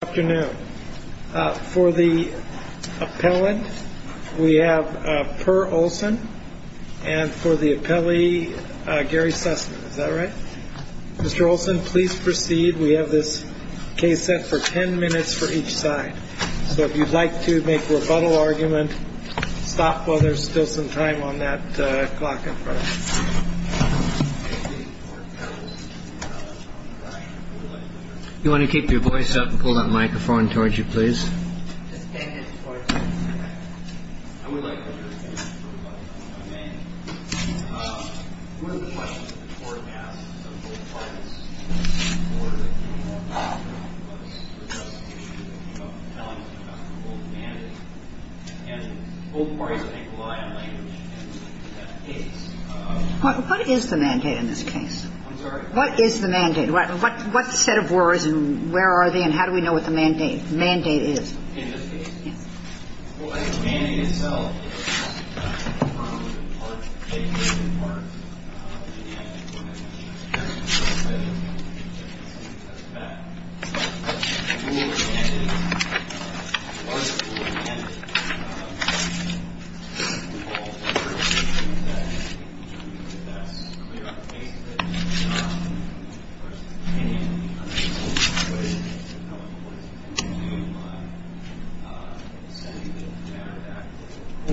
Good afternoon. For the appellant, we have Per Olson. And for the appellee, Gary Sussman. Is that right? Mr. Olson, please proceed. We have this case set for ten minutes for each side. So if you'd like to make a rebuttal argument, stop while there's still some time on that clock in front of you. You want to keep your voice up and pull that microphone towards you, please. What is the mandate in this case? I'm sorry? What is the mandate? What set of words and where are they and how do we know what the mandate is? In this case, the mandate itself is a part of the mandate.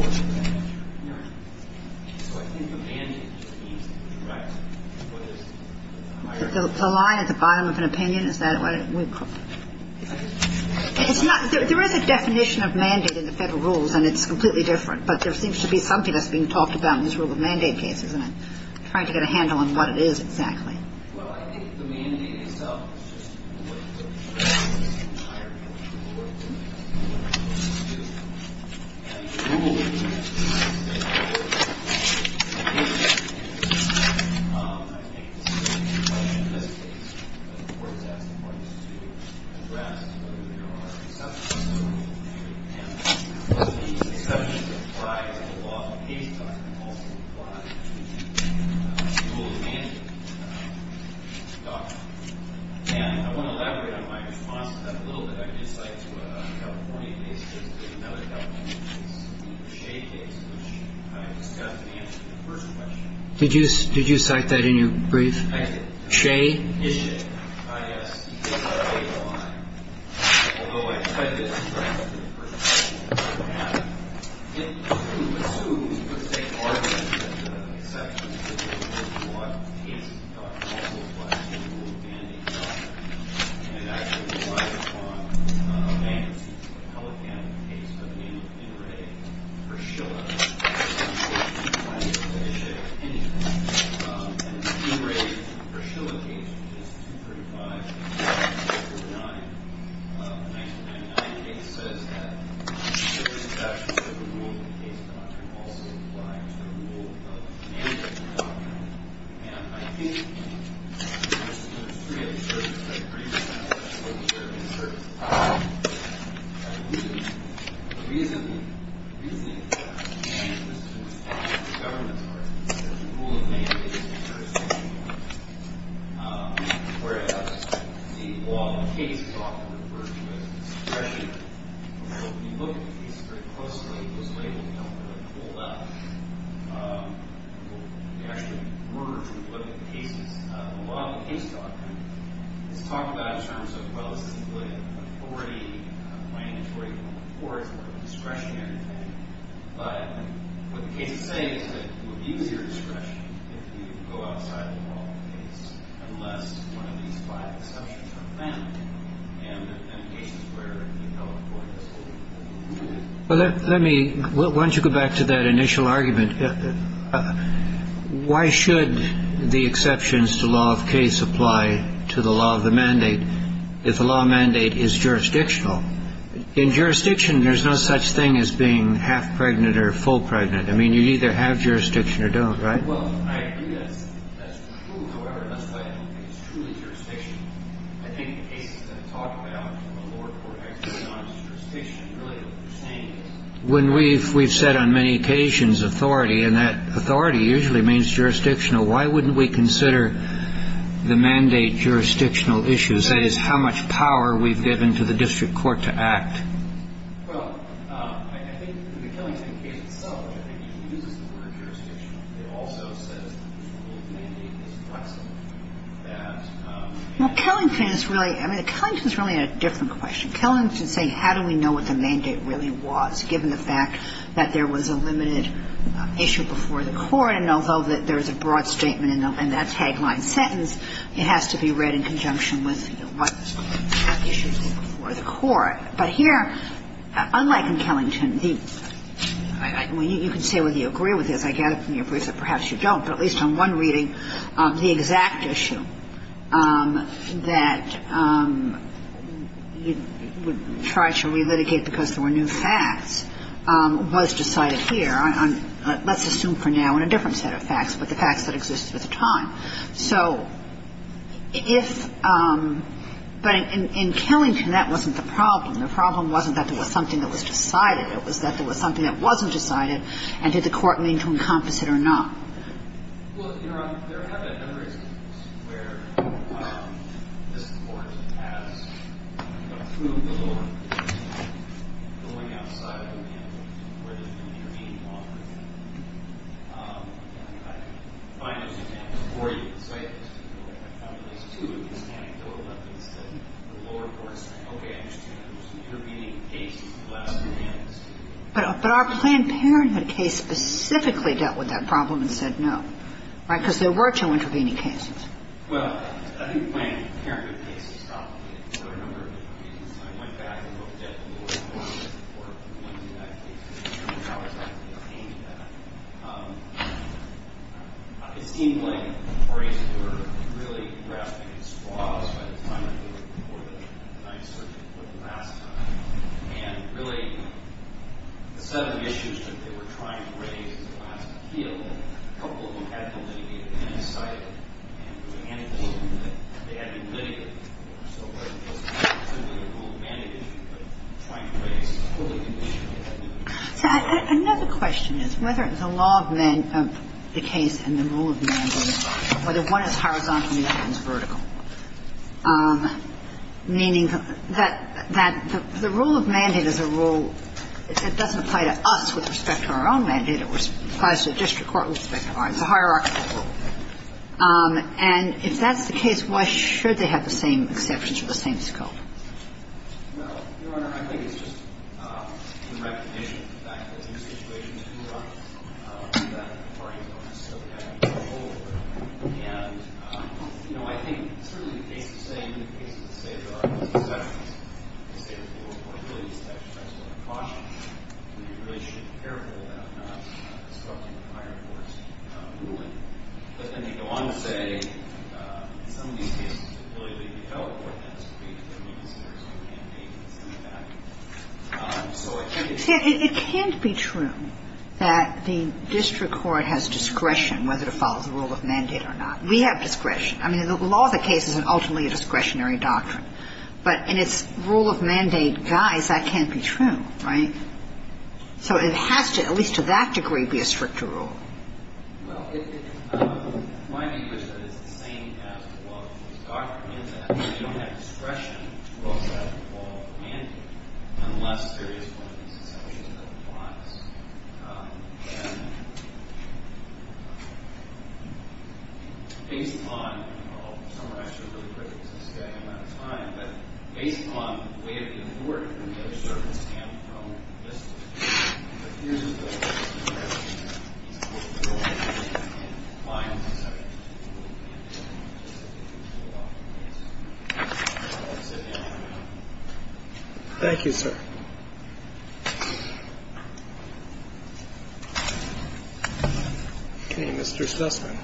I think the mandate seems to be correct. The line at the bottom of an opinion, is that what we put? There is a definition of mandate in the federal rules, and it's completely different. But there seems to be something that's being talked about in this rule of mandate case, isn't it? Trying to get a handle on what it is exactly. Did you did you cite that in your brief? I did. Whereas the law of the case is often referred to as discretionary. So if you look at the case very closely, those labels don't really hold up. We actually were to look at the cases. The law of the case doctrine is talked about in terms of, well, this is a good authority, a mandatory form of court discretionary thing. But what the case is saying is that you would use your discretion if you go outside the law of the case, unless one of these five assumptions are met. And in cases where you tell a court this. Let me, why don't you go back to that initial argument. Why should the exceptions to law of case apply to the law of the mandate if the law mandate is jurisdictional? In jurisdiction, there's no such thing as being half pregnant or full pregnant. I mean, you either have jurisdiction or don't. Right. When we've we've said on many occasions, authority and that authority usually means jurisdictional. Why wouldn't we consider the mandate jurisdictional issues? Because it is how much power we've given to the district court to act. Well, I think the Kellington case itself, I think, uses the word jurisdictional. It also says that the mandate is flexible. Well, Kellington is really, I mean, Kellington is really a different question. Kellington is saying how do we know what the mandate really was, given the fact that there was a limited issue before the court, and although there's a broad statement in that tagline sentence, it has to be read in conjunction with what the issue was before the court. But here, unlike in Kellington, you can say whether you agree with this. I gather from your briefs that perhaps you don't. But at least on one reading, the exact issue that you would try to relitigate because there were new facts was decided here on let's assume for now on a different set of facts, but the facts that existed at the time. So if – but in Kellington, that wasn't the problem. The problem wasn't that there was something that was decided. It was that there was something that wasn't decided, and did the court mean to encompass it or not. But our Planned Parenthood case specifically dealt with that problem. And the reason I'm asking that is because I don't think that the case itself was a case of a couple of patents that had been decided and the mandate was that they had to be litigated. So it was not simply a rule of mandate, but trying to write a fully conditional mandate. So I – another question is whether the law of the case and the rule of mandate are the same, whether one is horizontal and the other is vertical, meaning that the rule of mandate is a rule that doesn't apply to us with respect to our own mandate. It applies to the district court with respect to ours. It's a hierarchical rule. And if that's the case, why should they have the same exceptions or the same scope? Well, Your Honor, I think it's just in recognition of the fact that in situations we run, that the parties don't necessarily have control over it. And, you know, I think certainly the case is the same in the cases that say there are exceptions. They say there's a little more ability to exercise court of caution. And you really should be careful about not disrupting the higher court's ruling. But then they go on to say in some of these cases, the ability to develop court of caution is not as great when you consider some mandates and some of that. So it can be true. See, it can't be true that the district court has discretion whether to follow the rule of mandate or not. We have discretion. I mean, the law of the case is ultimately a discretionary doctrine. But in its rule of mandate guise, that can't be true, right? So it has to, at least to that degree, be a stricter rule. Well, my view is that it's the same as the law of the case. The doctrine is that you don't have discretion to follow the rule of mandate unless there is one of these exceptions that applies. And based on, well, some are actually really critical since we don't have enough time, but based on the way of the court, there's sort of a stamp from the district court. Thank you, sir. Okay. Mr. Sussman. Thank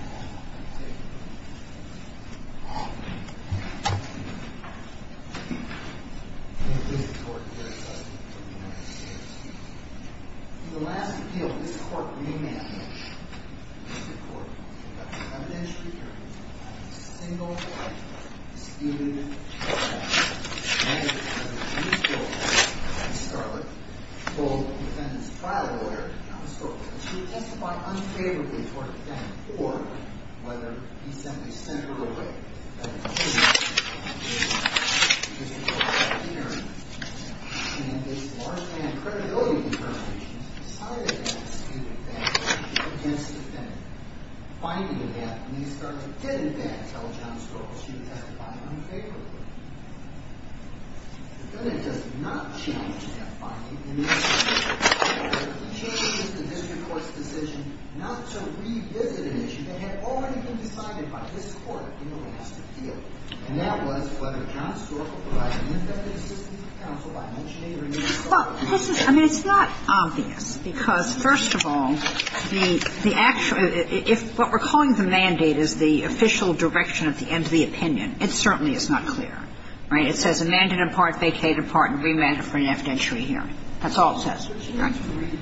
you. In the last appeal, this court re-managed the district court. It got the evidentiary hearing on a single point, disputed the mandate of the district court. Ms. Starlet told the defendant's trial lawyer, Thomas Stork, that she would testify unfavorably toward the defendant, or whether he simply sent her away. But in the case of the district court, the district court got the hearing, and based largely on credibility determinations, decided against the defendant. The finding of that, Ms. Starlet didn't then tell Thomas Stork that she would testify unfavorably. The defendant does not challenge that finding in this case. The defendant changes the district court's decision not to revisit an issue that had already been decided by this court in the last appeal, and that was whether John Stork would provide an indefinite assistance to counsel by mentioning or indisclosing it. Well, this is – I mean, it's not obvious, because, first of all, the actual – if what we're calling the mandate is the official direction at the end of the opinion, it certainly is not clear. Right? It says a mandate in part, vacated part, and re-mandated for an evidentiary That's all it says.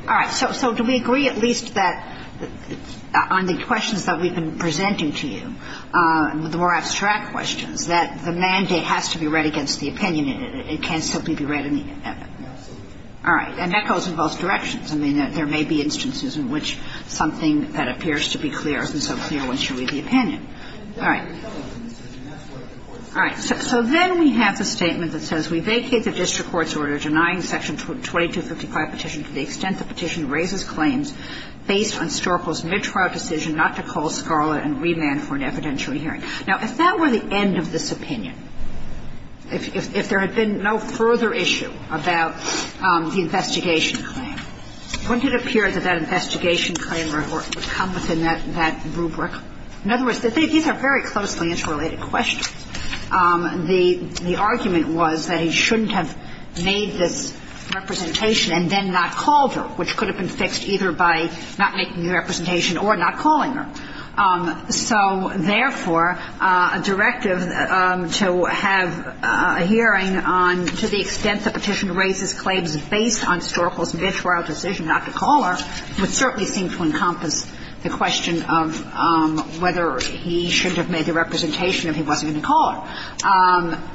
All right. So do we agree at least that on the questions that we've been presenting to you, the more abstract questions, that the mandate has to be read against the opinion and it can't simply be read in the – Absolutely. All right. And that goes in both directions. I mean, there may be instances in which something that appears to be clear isn't so clear once you read the opinion. All right. All right. So then we have the statement that says, Now, if that were the end of this opinion, if there had been no further issue about the investigation claim, wouldn't it appear that that investigation claim would come within that rubric? In other words, these are very closely interrelated questions. I mean, I don't think there's a clear answer to the question of whether he shouldn't have made this representation and then not called her, which could have been fixed either by not making the representation or not calling her. So, therefore, a directive to have a hearing on to the extent the Petitioner raises claims based on Storkville's vitriol decision not to call her would certainly seem to encompass the question of whether he shouldn't have made the representation if he wasn't going to call her.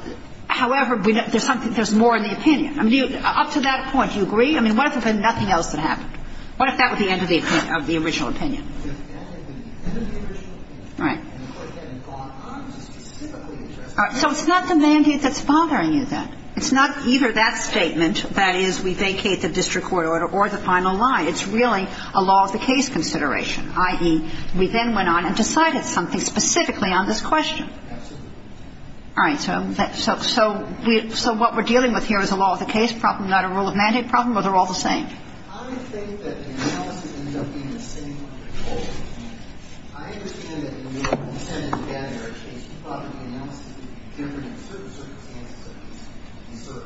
However, there's more in the opinion. I mean, up to that point, do you agree? I mean, what if there had been nothing else that happened? What if that were the end of the original opinion? Right. So it's not the mandate that's bothering you then. It's not either that statement, that is, we vacate the district court order or the final line. It's really a law-of-the-case consideration, i.e., we then went on and decided something specifically on this question. Absolutely. All right. So what we're dealing with here is a law-of-the-case problem, not a rule-of-mandate problem? Or they're all the same? I think that the analysis ends up being the same. I understand that in the case, you thought the analysis would be different in certain circumstances.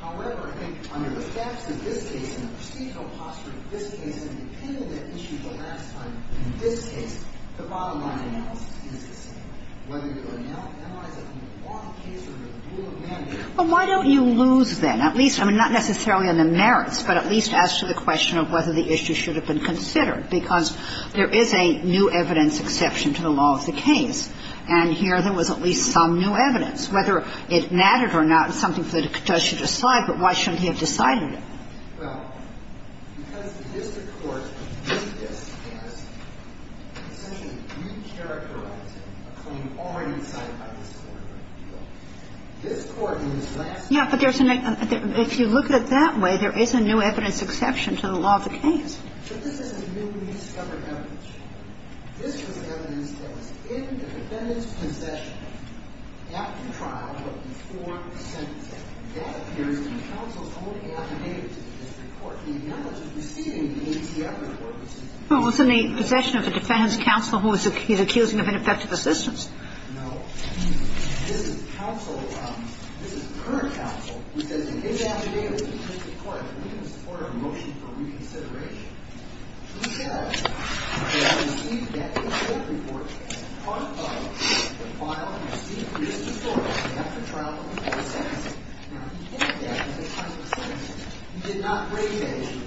However, perhaps in this case, in the procedural posture of this case and the opinion that issued the last time, in this case, the bottom line analysis is the same, whether you analyze it from the law of the case or the rule of mandate. Well, why don't you lose then, at least, I mean, not necessarily on the merits, but at least as to the question of whether the issue should have been considered, because there is a new evidence exception to the law of the case. And here there was at least some new evidence. Whether it mattered or not is something for the judge to decide, but why shouldn't he have decided it? Well, because the district court, in this case, essentially re-characterized a claim already decided by this Court. This Court in this last case. Yeah, but there's a next one. If you look at it that way, there is a new evidence exception to the law of the case. But this is a newly discovered evidence. This was evidence that was in the defendant's possession after trial but before the sentence. That appears in the counsel's own affidavit to the district court. The knowledge of receiving the ATF report was used. Well, it was in the possession of the defendant's counsel who was accusing of ineffective assistance. No. This is counsel. This is her counsel who says in his affidavit to the district court that we can support a motion for reconsideration. He says that he received the ATF report as a product of the file received previously before us after trial but before the sentence. Now, he did not break that.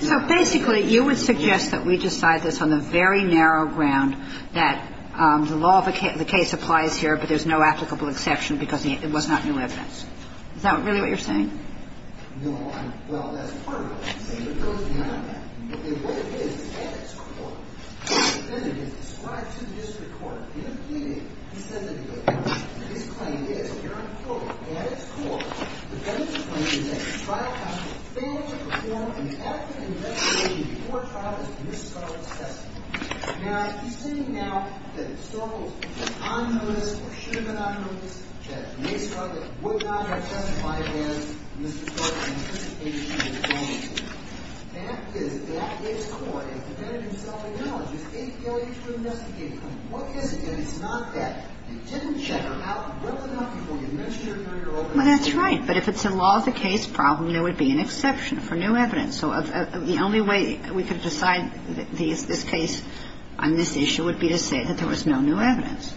So basically, you would suggest that we decide this on the very narrow ground that the law of the case applies here, but there's no applicable exception because it was not new evidence. Is that really what you're saying? No. Well, that's part of it. See, it goes beyond that. Okay, what it is is at its core, the defendant is described to the district court in the affidavit. He says that he was hurt. His claim is, here I'm quoting, at its core, the defendant claims that the trial counsel failed to perform an effective investigation before trial and miscarred the sentence. Now, he's saying now that it still holds that on notice or should have been on notice, the judge may scrub it, would not have testified against Mr. Clark in anticipation of the trial. That is, that is core. The defendant himself acknowledges APLU to investigate him. What is it? And it's not that. You didn't check him out well enough before you mentioned it in your opening statement. Well, that's right. But if it's a law of the case problem, there would be an exception for new evidence. So the only way we could decide this case on this issue would be to say that there was no new evidence.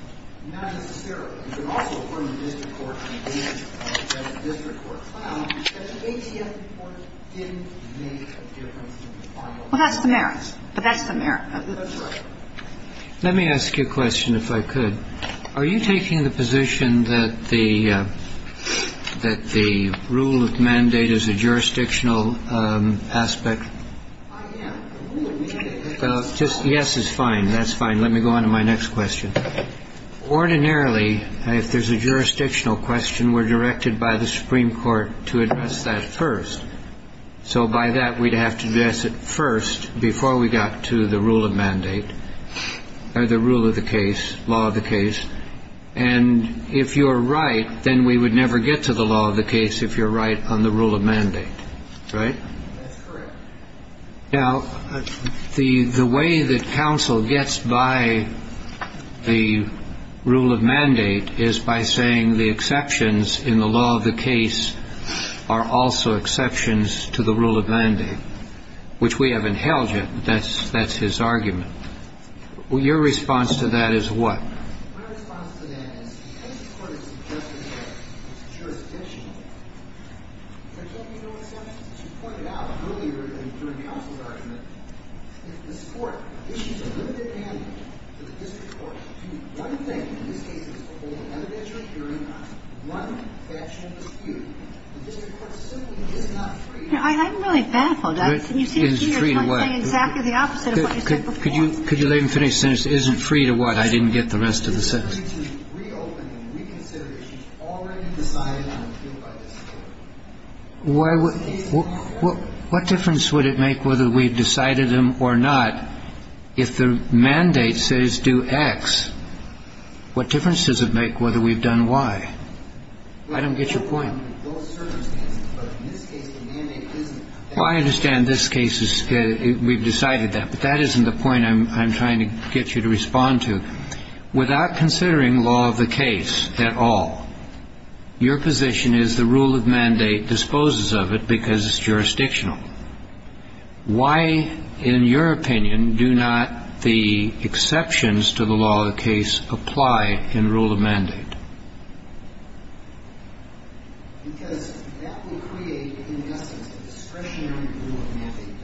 Not necessarily. But you can also affirm the district court's decision, the district court's claim, that the APLU report didn't make a difference in the final judgment. Well, that's the merits. But that's the merits. That's right. Let me ask you a question, if I could. Are you taking the position that the rule of mandate is a jurisdictional aspect? I am. The rule of mandate is not. Just yes is fine. That's fine. Let me go on to my next question. Ordinarily, if there's a jurisdictional question, we're directed by the Supreme Court to address that first. So by that, we'd have to address it first before we got to the rule of mandate or the rule of the case, law of the case. And if you're right, then we would never get to the law of the case if you're right on the rule of mandate. Right? That's correct. Now, the way that counsel gets by the rule of mandate is by saying the exceptions in the law of the case are also exceptions to the rule of mandate, which we haven't held yet. That's his argument. Your response to that is what? My response to that is because the court has suggested that it's jurisdictional, there can't be no exceptions. As you pointed out earlier during counsel's argument, if this Court issues a limited mandate to the district court to do one thing, in this case it's a hold an evidentiary hearing on one faction of the dispute, the district court simply is not free to do that. I'm really baffled. It is free to what? You seem to be saying exactly the opposite of what you said before. Could you let me finish? It isn't free to what? I didn't get the rest of the sentence. It is free to reopen and reconsider issues already decided on and appealed by the district court. What difference would it make whether we've decided them or not if the mandate says do X? What difference does it make whether we've done Y? I don't get your point. Well, in those circumstances, but in this case the mandate isn't. Well, I understand this case is we've decided that, but that isn't the point I'm trying to get you to respond to. Without considering law of the case at all, your position is the rule of mandate disposes of it because it's jurisdictional. Why, in your opinion, do not the exceptions to the law of the case apply in rule of mandate? Because that would create, in essence, a discretionary rule of mandate.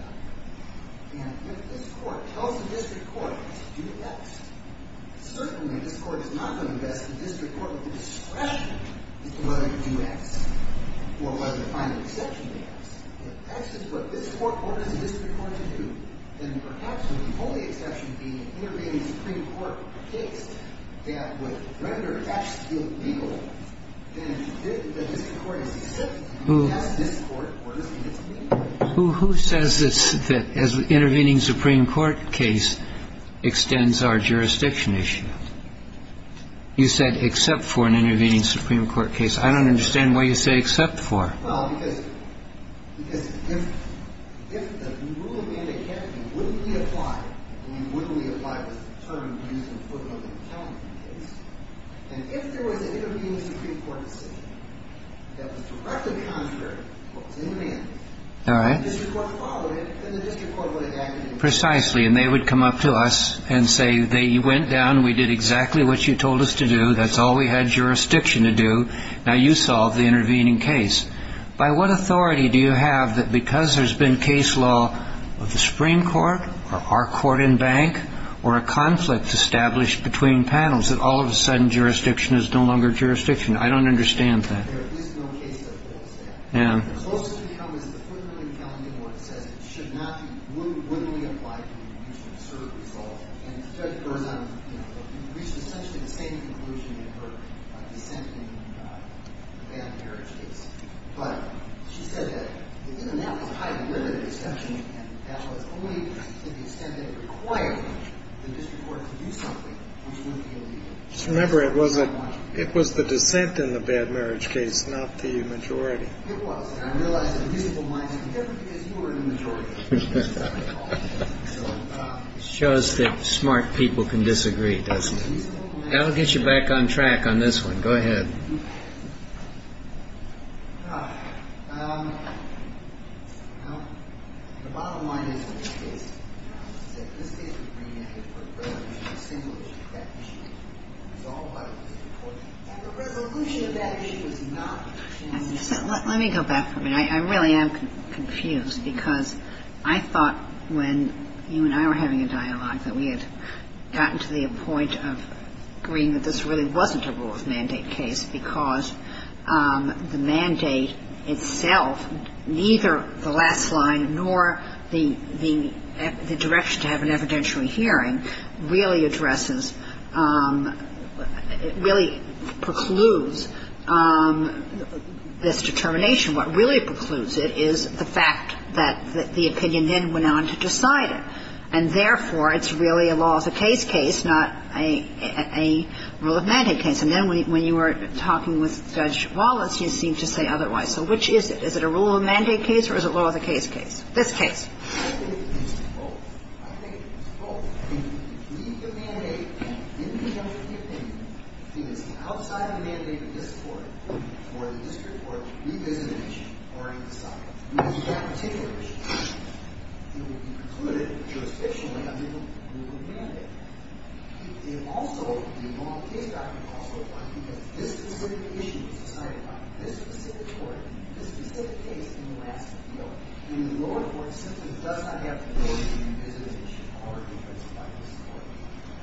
And if this court tells the district court to do X, certainly this court is not going to invest in the district court with the discretion to do X or whether to find an exception to X. If X is what this court orders the district court to do, then perhaps the only exception would be an intervening Supreme Court case that would render X illegal. Then the district court is to accept X. This court orders the district court to do X. Who says that intervening Supreme Court case extends our jurisdiction issue? You said except for an intervening Supreme Court case. I don't understand why you say except for. Well, because if the rule of mandate can't be wouldn't be applied, then wouldn't be applied was the term used in the footnote of the accounting case. And if there was an intervening Supreme Court decision that was directly contrary to what was in the mandate, the district court followed it, and the district court would have acted in the same way. Precisely. And they would come up to us and say, they went down. We did exactly what you told us to do. That's all we had jurisdiction to do. Now you solve the intervening case. By what authority do you have that because there's been case law of the Supreme Court, or our court and bank, or a conflict established between panels, that all of a sudden jurisdiction is no longer jurisdiction? I don't understand that. There is no case that holds that. Yeah. It's supposed to become, as the footnote in the accounting word says, it should not be wouldn't be applied to the district court result. It was the dissent in the bad marriage case, not the majority. It was. It shows that smart people can disagree, doesn't it? I'll get you back on track on this one. Go ahead. Let me go back for a minute. I really am confused because I thought when you and I were having a dialogue that we had gotten to the point of agreeing that this really wasn't a rules mandate case because the mandate itself, neither the last line nor the direction to have an evidentiary hearing, really addresses, really precludes this determination. What really precludes it is the fact that the opinion then went on to decide it. And therefore, it's really a laws of case case, not a rule of mandate case. And then when you were talking with Judge Wallace, you seemed to say otherwise. So which is it? Is it a rule of mandate case or is it a laws of case case? This case. I think it's both. I think it's both. If we leave the mandate in the judge's opinion, if it is outside the mandate of this court or the district court, we visit an issue or we decide it. If it's that particular issue, it will be precluded jurisdictionally under the rule of mandate. It also, the law of case document also applies because this specific issue was decided by this specific court, this specific case in the last appeal. The lower court simply does not have the authority to visit an issue or defense it by this court.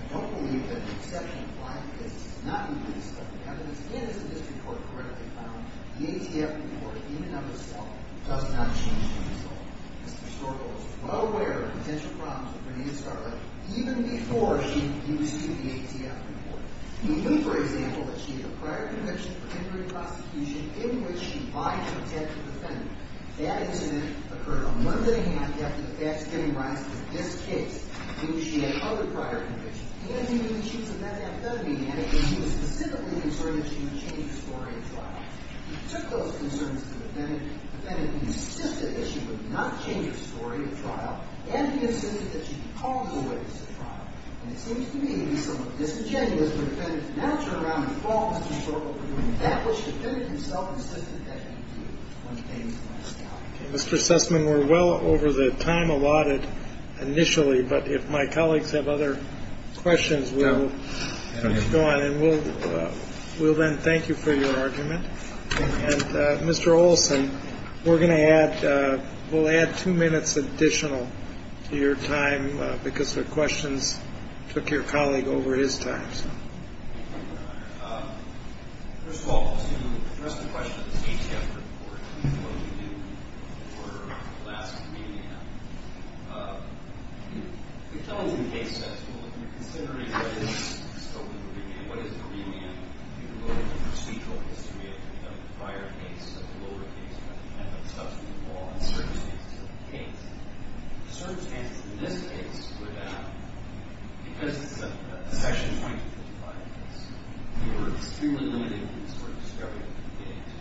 I don't believe that the exception of client cases does not include this particular evidence. And as the district court correctly found, the ATF report in and of itself does not change this at all. Mr. Stork was well aware of potential problems with Bernina Starling even before she was used to the ATF report. He knew, for example, that she had a prior conviction for injury prosecution in which she lied to attack the defendant. That incident occurred a month and a half after the facts came to light in this case in which she had other prior convictions. He knew the issues of that authenticity and he was specifically concerned that she would change the story of the trial. He took those concerns to the defendant. The defendant insisted that she would not change the story of the trial and he insisted that she be called away from the trial. And it seems to me reasonable disingenuous for the defendant to not turn around and fault Mr. Stork for doing that which the defendant himself insisted that he do when he came Mr. Sussman, we're well over the time allotted initially, but if my colleagues have other questions, we'll go on and we'll then thank you for your argument. And Mr. Olson, we're going to add, we'll add two minutes additional to your time because the questions took your colleague over his time. First of all, to address the question of the CTF report, what do you do for Alaska medium? You tell us the case that you're looking at. You're considering what is the scope of the review. What is the medium? You're looking at the procedural history of the prior case, of the lower case, of the substance of the law and the circumstances of the case. The circumstances in this case would, because it's a section 25 case, we were extremely limited in the sort of discovery that we were getting to.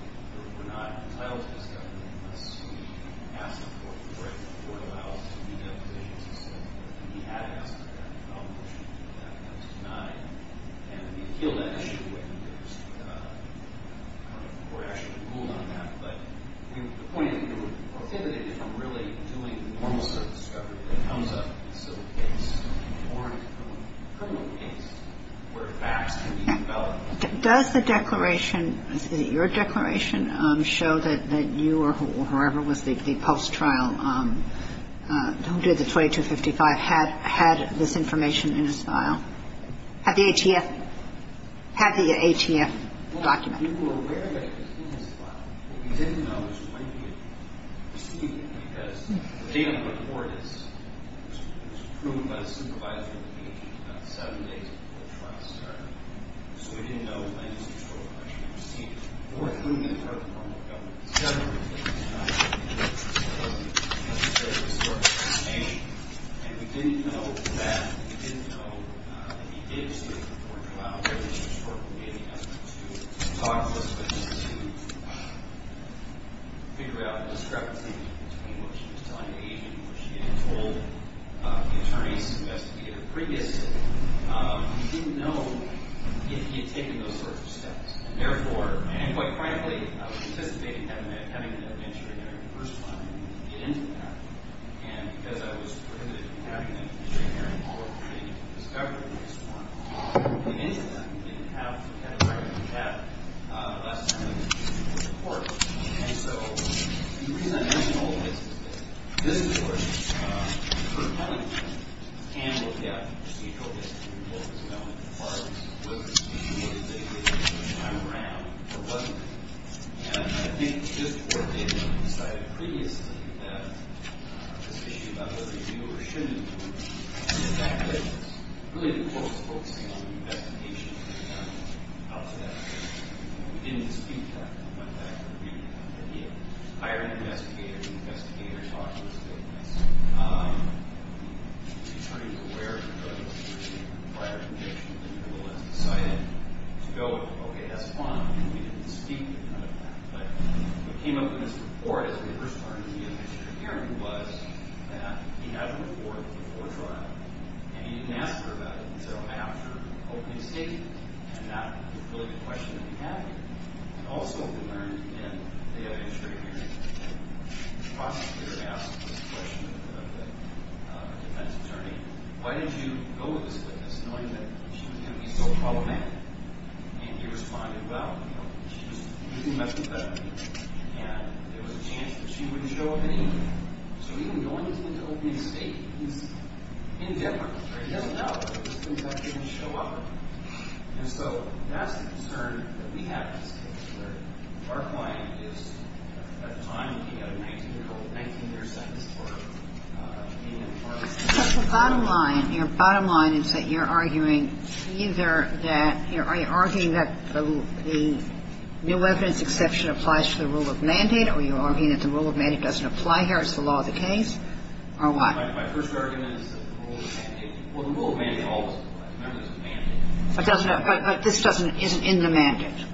We were not entitled to discovery unless we asked the court for a break. The court allowed us to rebuild provisions and so forth. And we had asked for a break in our motion back in 1909. And we appealed that issue when there was, I don't know if the court actually ruled on that, but the point is we were prohibited from really doing the normal sort of discovery that comes up in a civil case or in a criminal case where facts can be developed. Does the declaration, your declaration show that you or whoever was the post-trial, who did the 2255, had this information in his file? Had the ATF, had the ATF document? We were aware that it was in his file. What we didn't know was when he had received it, because the data report is, it was approved by the supervisor of the agency about seven days before the trial started. So we didn't know when Mr. Stork actually received it. The court ruled that part of the court had dealt with it several different times. And we didn't know that, we didn't know that he did receive the report that Mr. Stork was giving us to talk to us, but to figure out the discrepancy between what she was telling the agent and what she had told the attorney's investigator previously. We didn't know if he had taken those sorts of steps. And therefore, and quite frankly, I was anticipating having the magistrate hearing the first time to get into that. And because I was prohibited from having the magistrate hearing, I didn't have time for the discovery of this one. In any event, we didn't have the kind of record we have, unless we had an additional report. And so the reason I mentioned all of this is that Mr. Stork, for telling me, can look at procedural history reports as well, as far as what the procedure was that he gave us each time around, or wasn't. And I think just what they had decided previously, that this issue about whether you do or shouldn't do it, and the fact that really the court was focusing on the investigation and how to do that. We didn't dispute that. We went back and reviewed it. We hired an investigator. The investigator talked to us about this. The attorney is aware of the prior conviction, and will have decided to go, okay, that's fine. We didn't dispute that kind of fact. But what came up in this report, as we first started the magistrate hearing, was that he had a report before trial, and he didn't ask her about it until after opening statement. And that was really the question that we had here. And also, we learned in the magistrate hearing, the prosecutor asked the question of the defense attorney, why did you go with this witness, knowing that she was going to be so problematic? And he responded, well, you know, she was completely messed with that. And there was a chance that she wouldn't show up anyway. So even going to the opening statement is indifferent. He doesn't know. It just means that she didn't show up. And so that's the concern that we have in this case, where our client is at the time looking at a 19-year sentence for being in a car accident. But the bottom line, your bottom line is that you're arguing either that, you know, are you arguing that the new evidence exception applies to the rule of mandate, or are you arguing that the rule of mandate doesn't apply here, it's the law of the case, or what? My first argument is that the rule of mandate, well, the rule of mandate always applies. Remember, there's a mandate. But this doesn't, isn't in the mandate.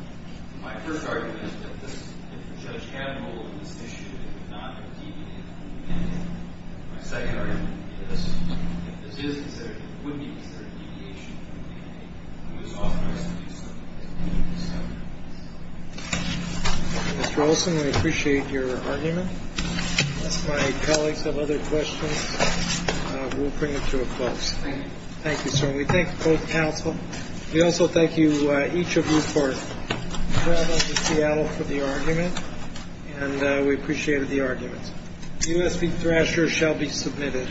My first argument is that this, if the judge had a role in this issue, it would not have deviated from the mandate. My second argument is that this is considered, would be considered deviation from the mandate. It was authorized to do so. Mr. Olson, we appreciate your argument. If my colleagues have other questions, we'll bring it to a close. Thank you. Thank you, sir. And we thank both counsel. We also thank each of you for traveling to Seattle for the argument, and we appreciated the argument. USB thrasher shall be submitted.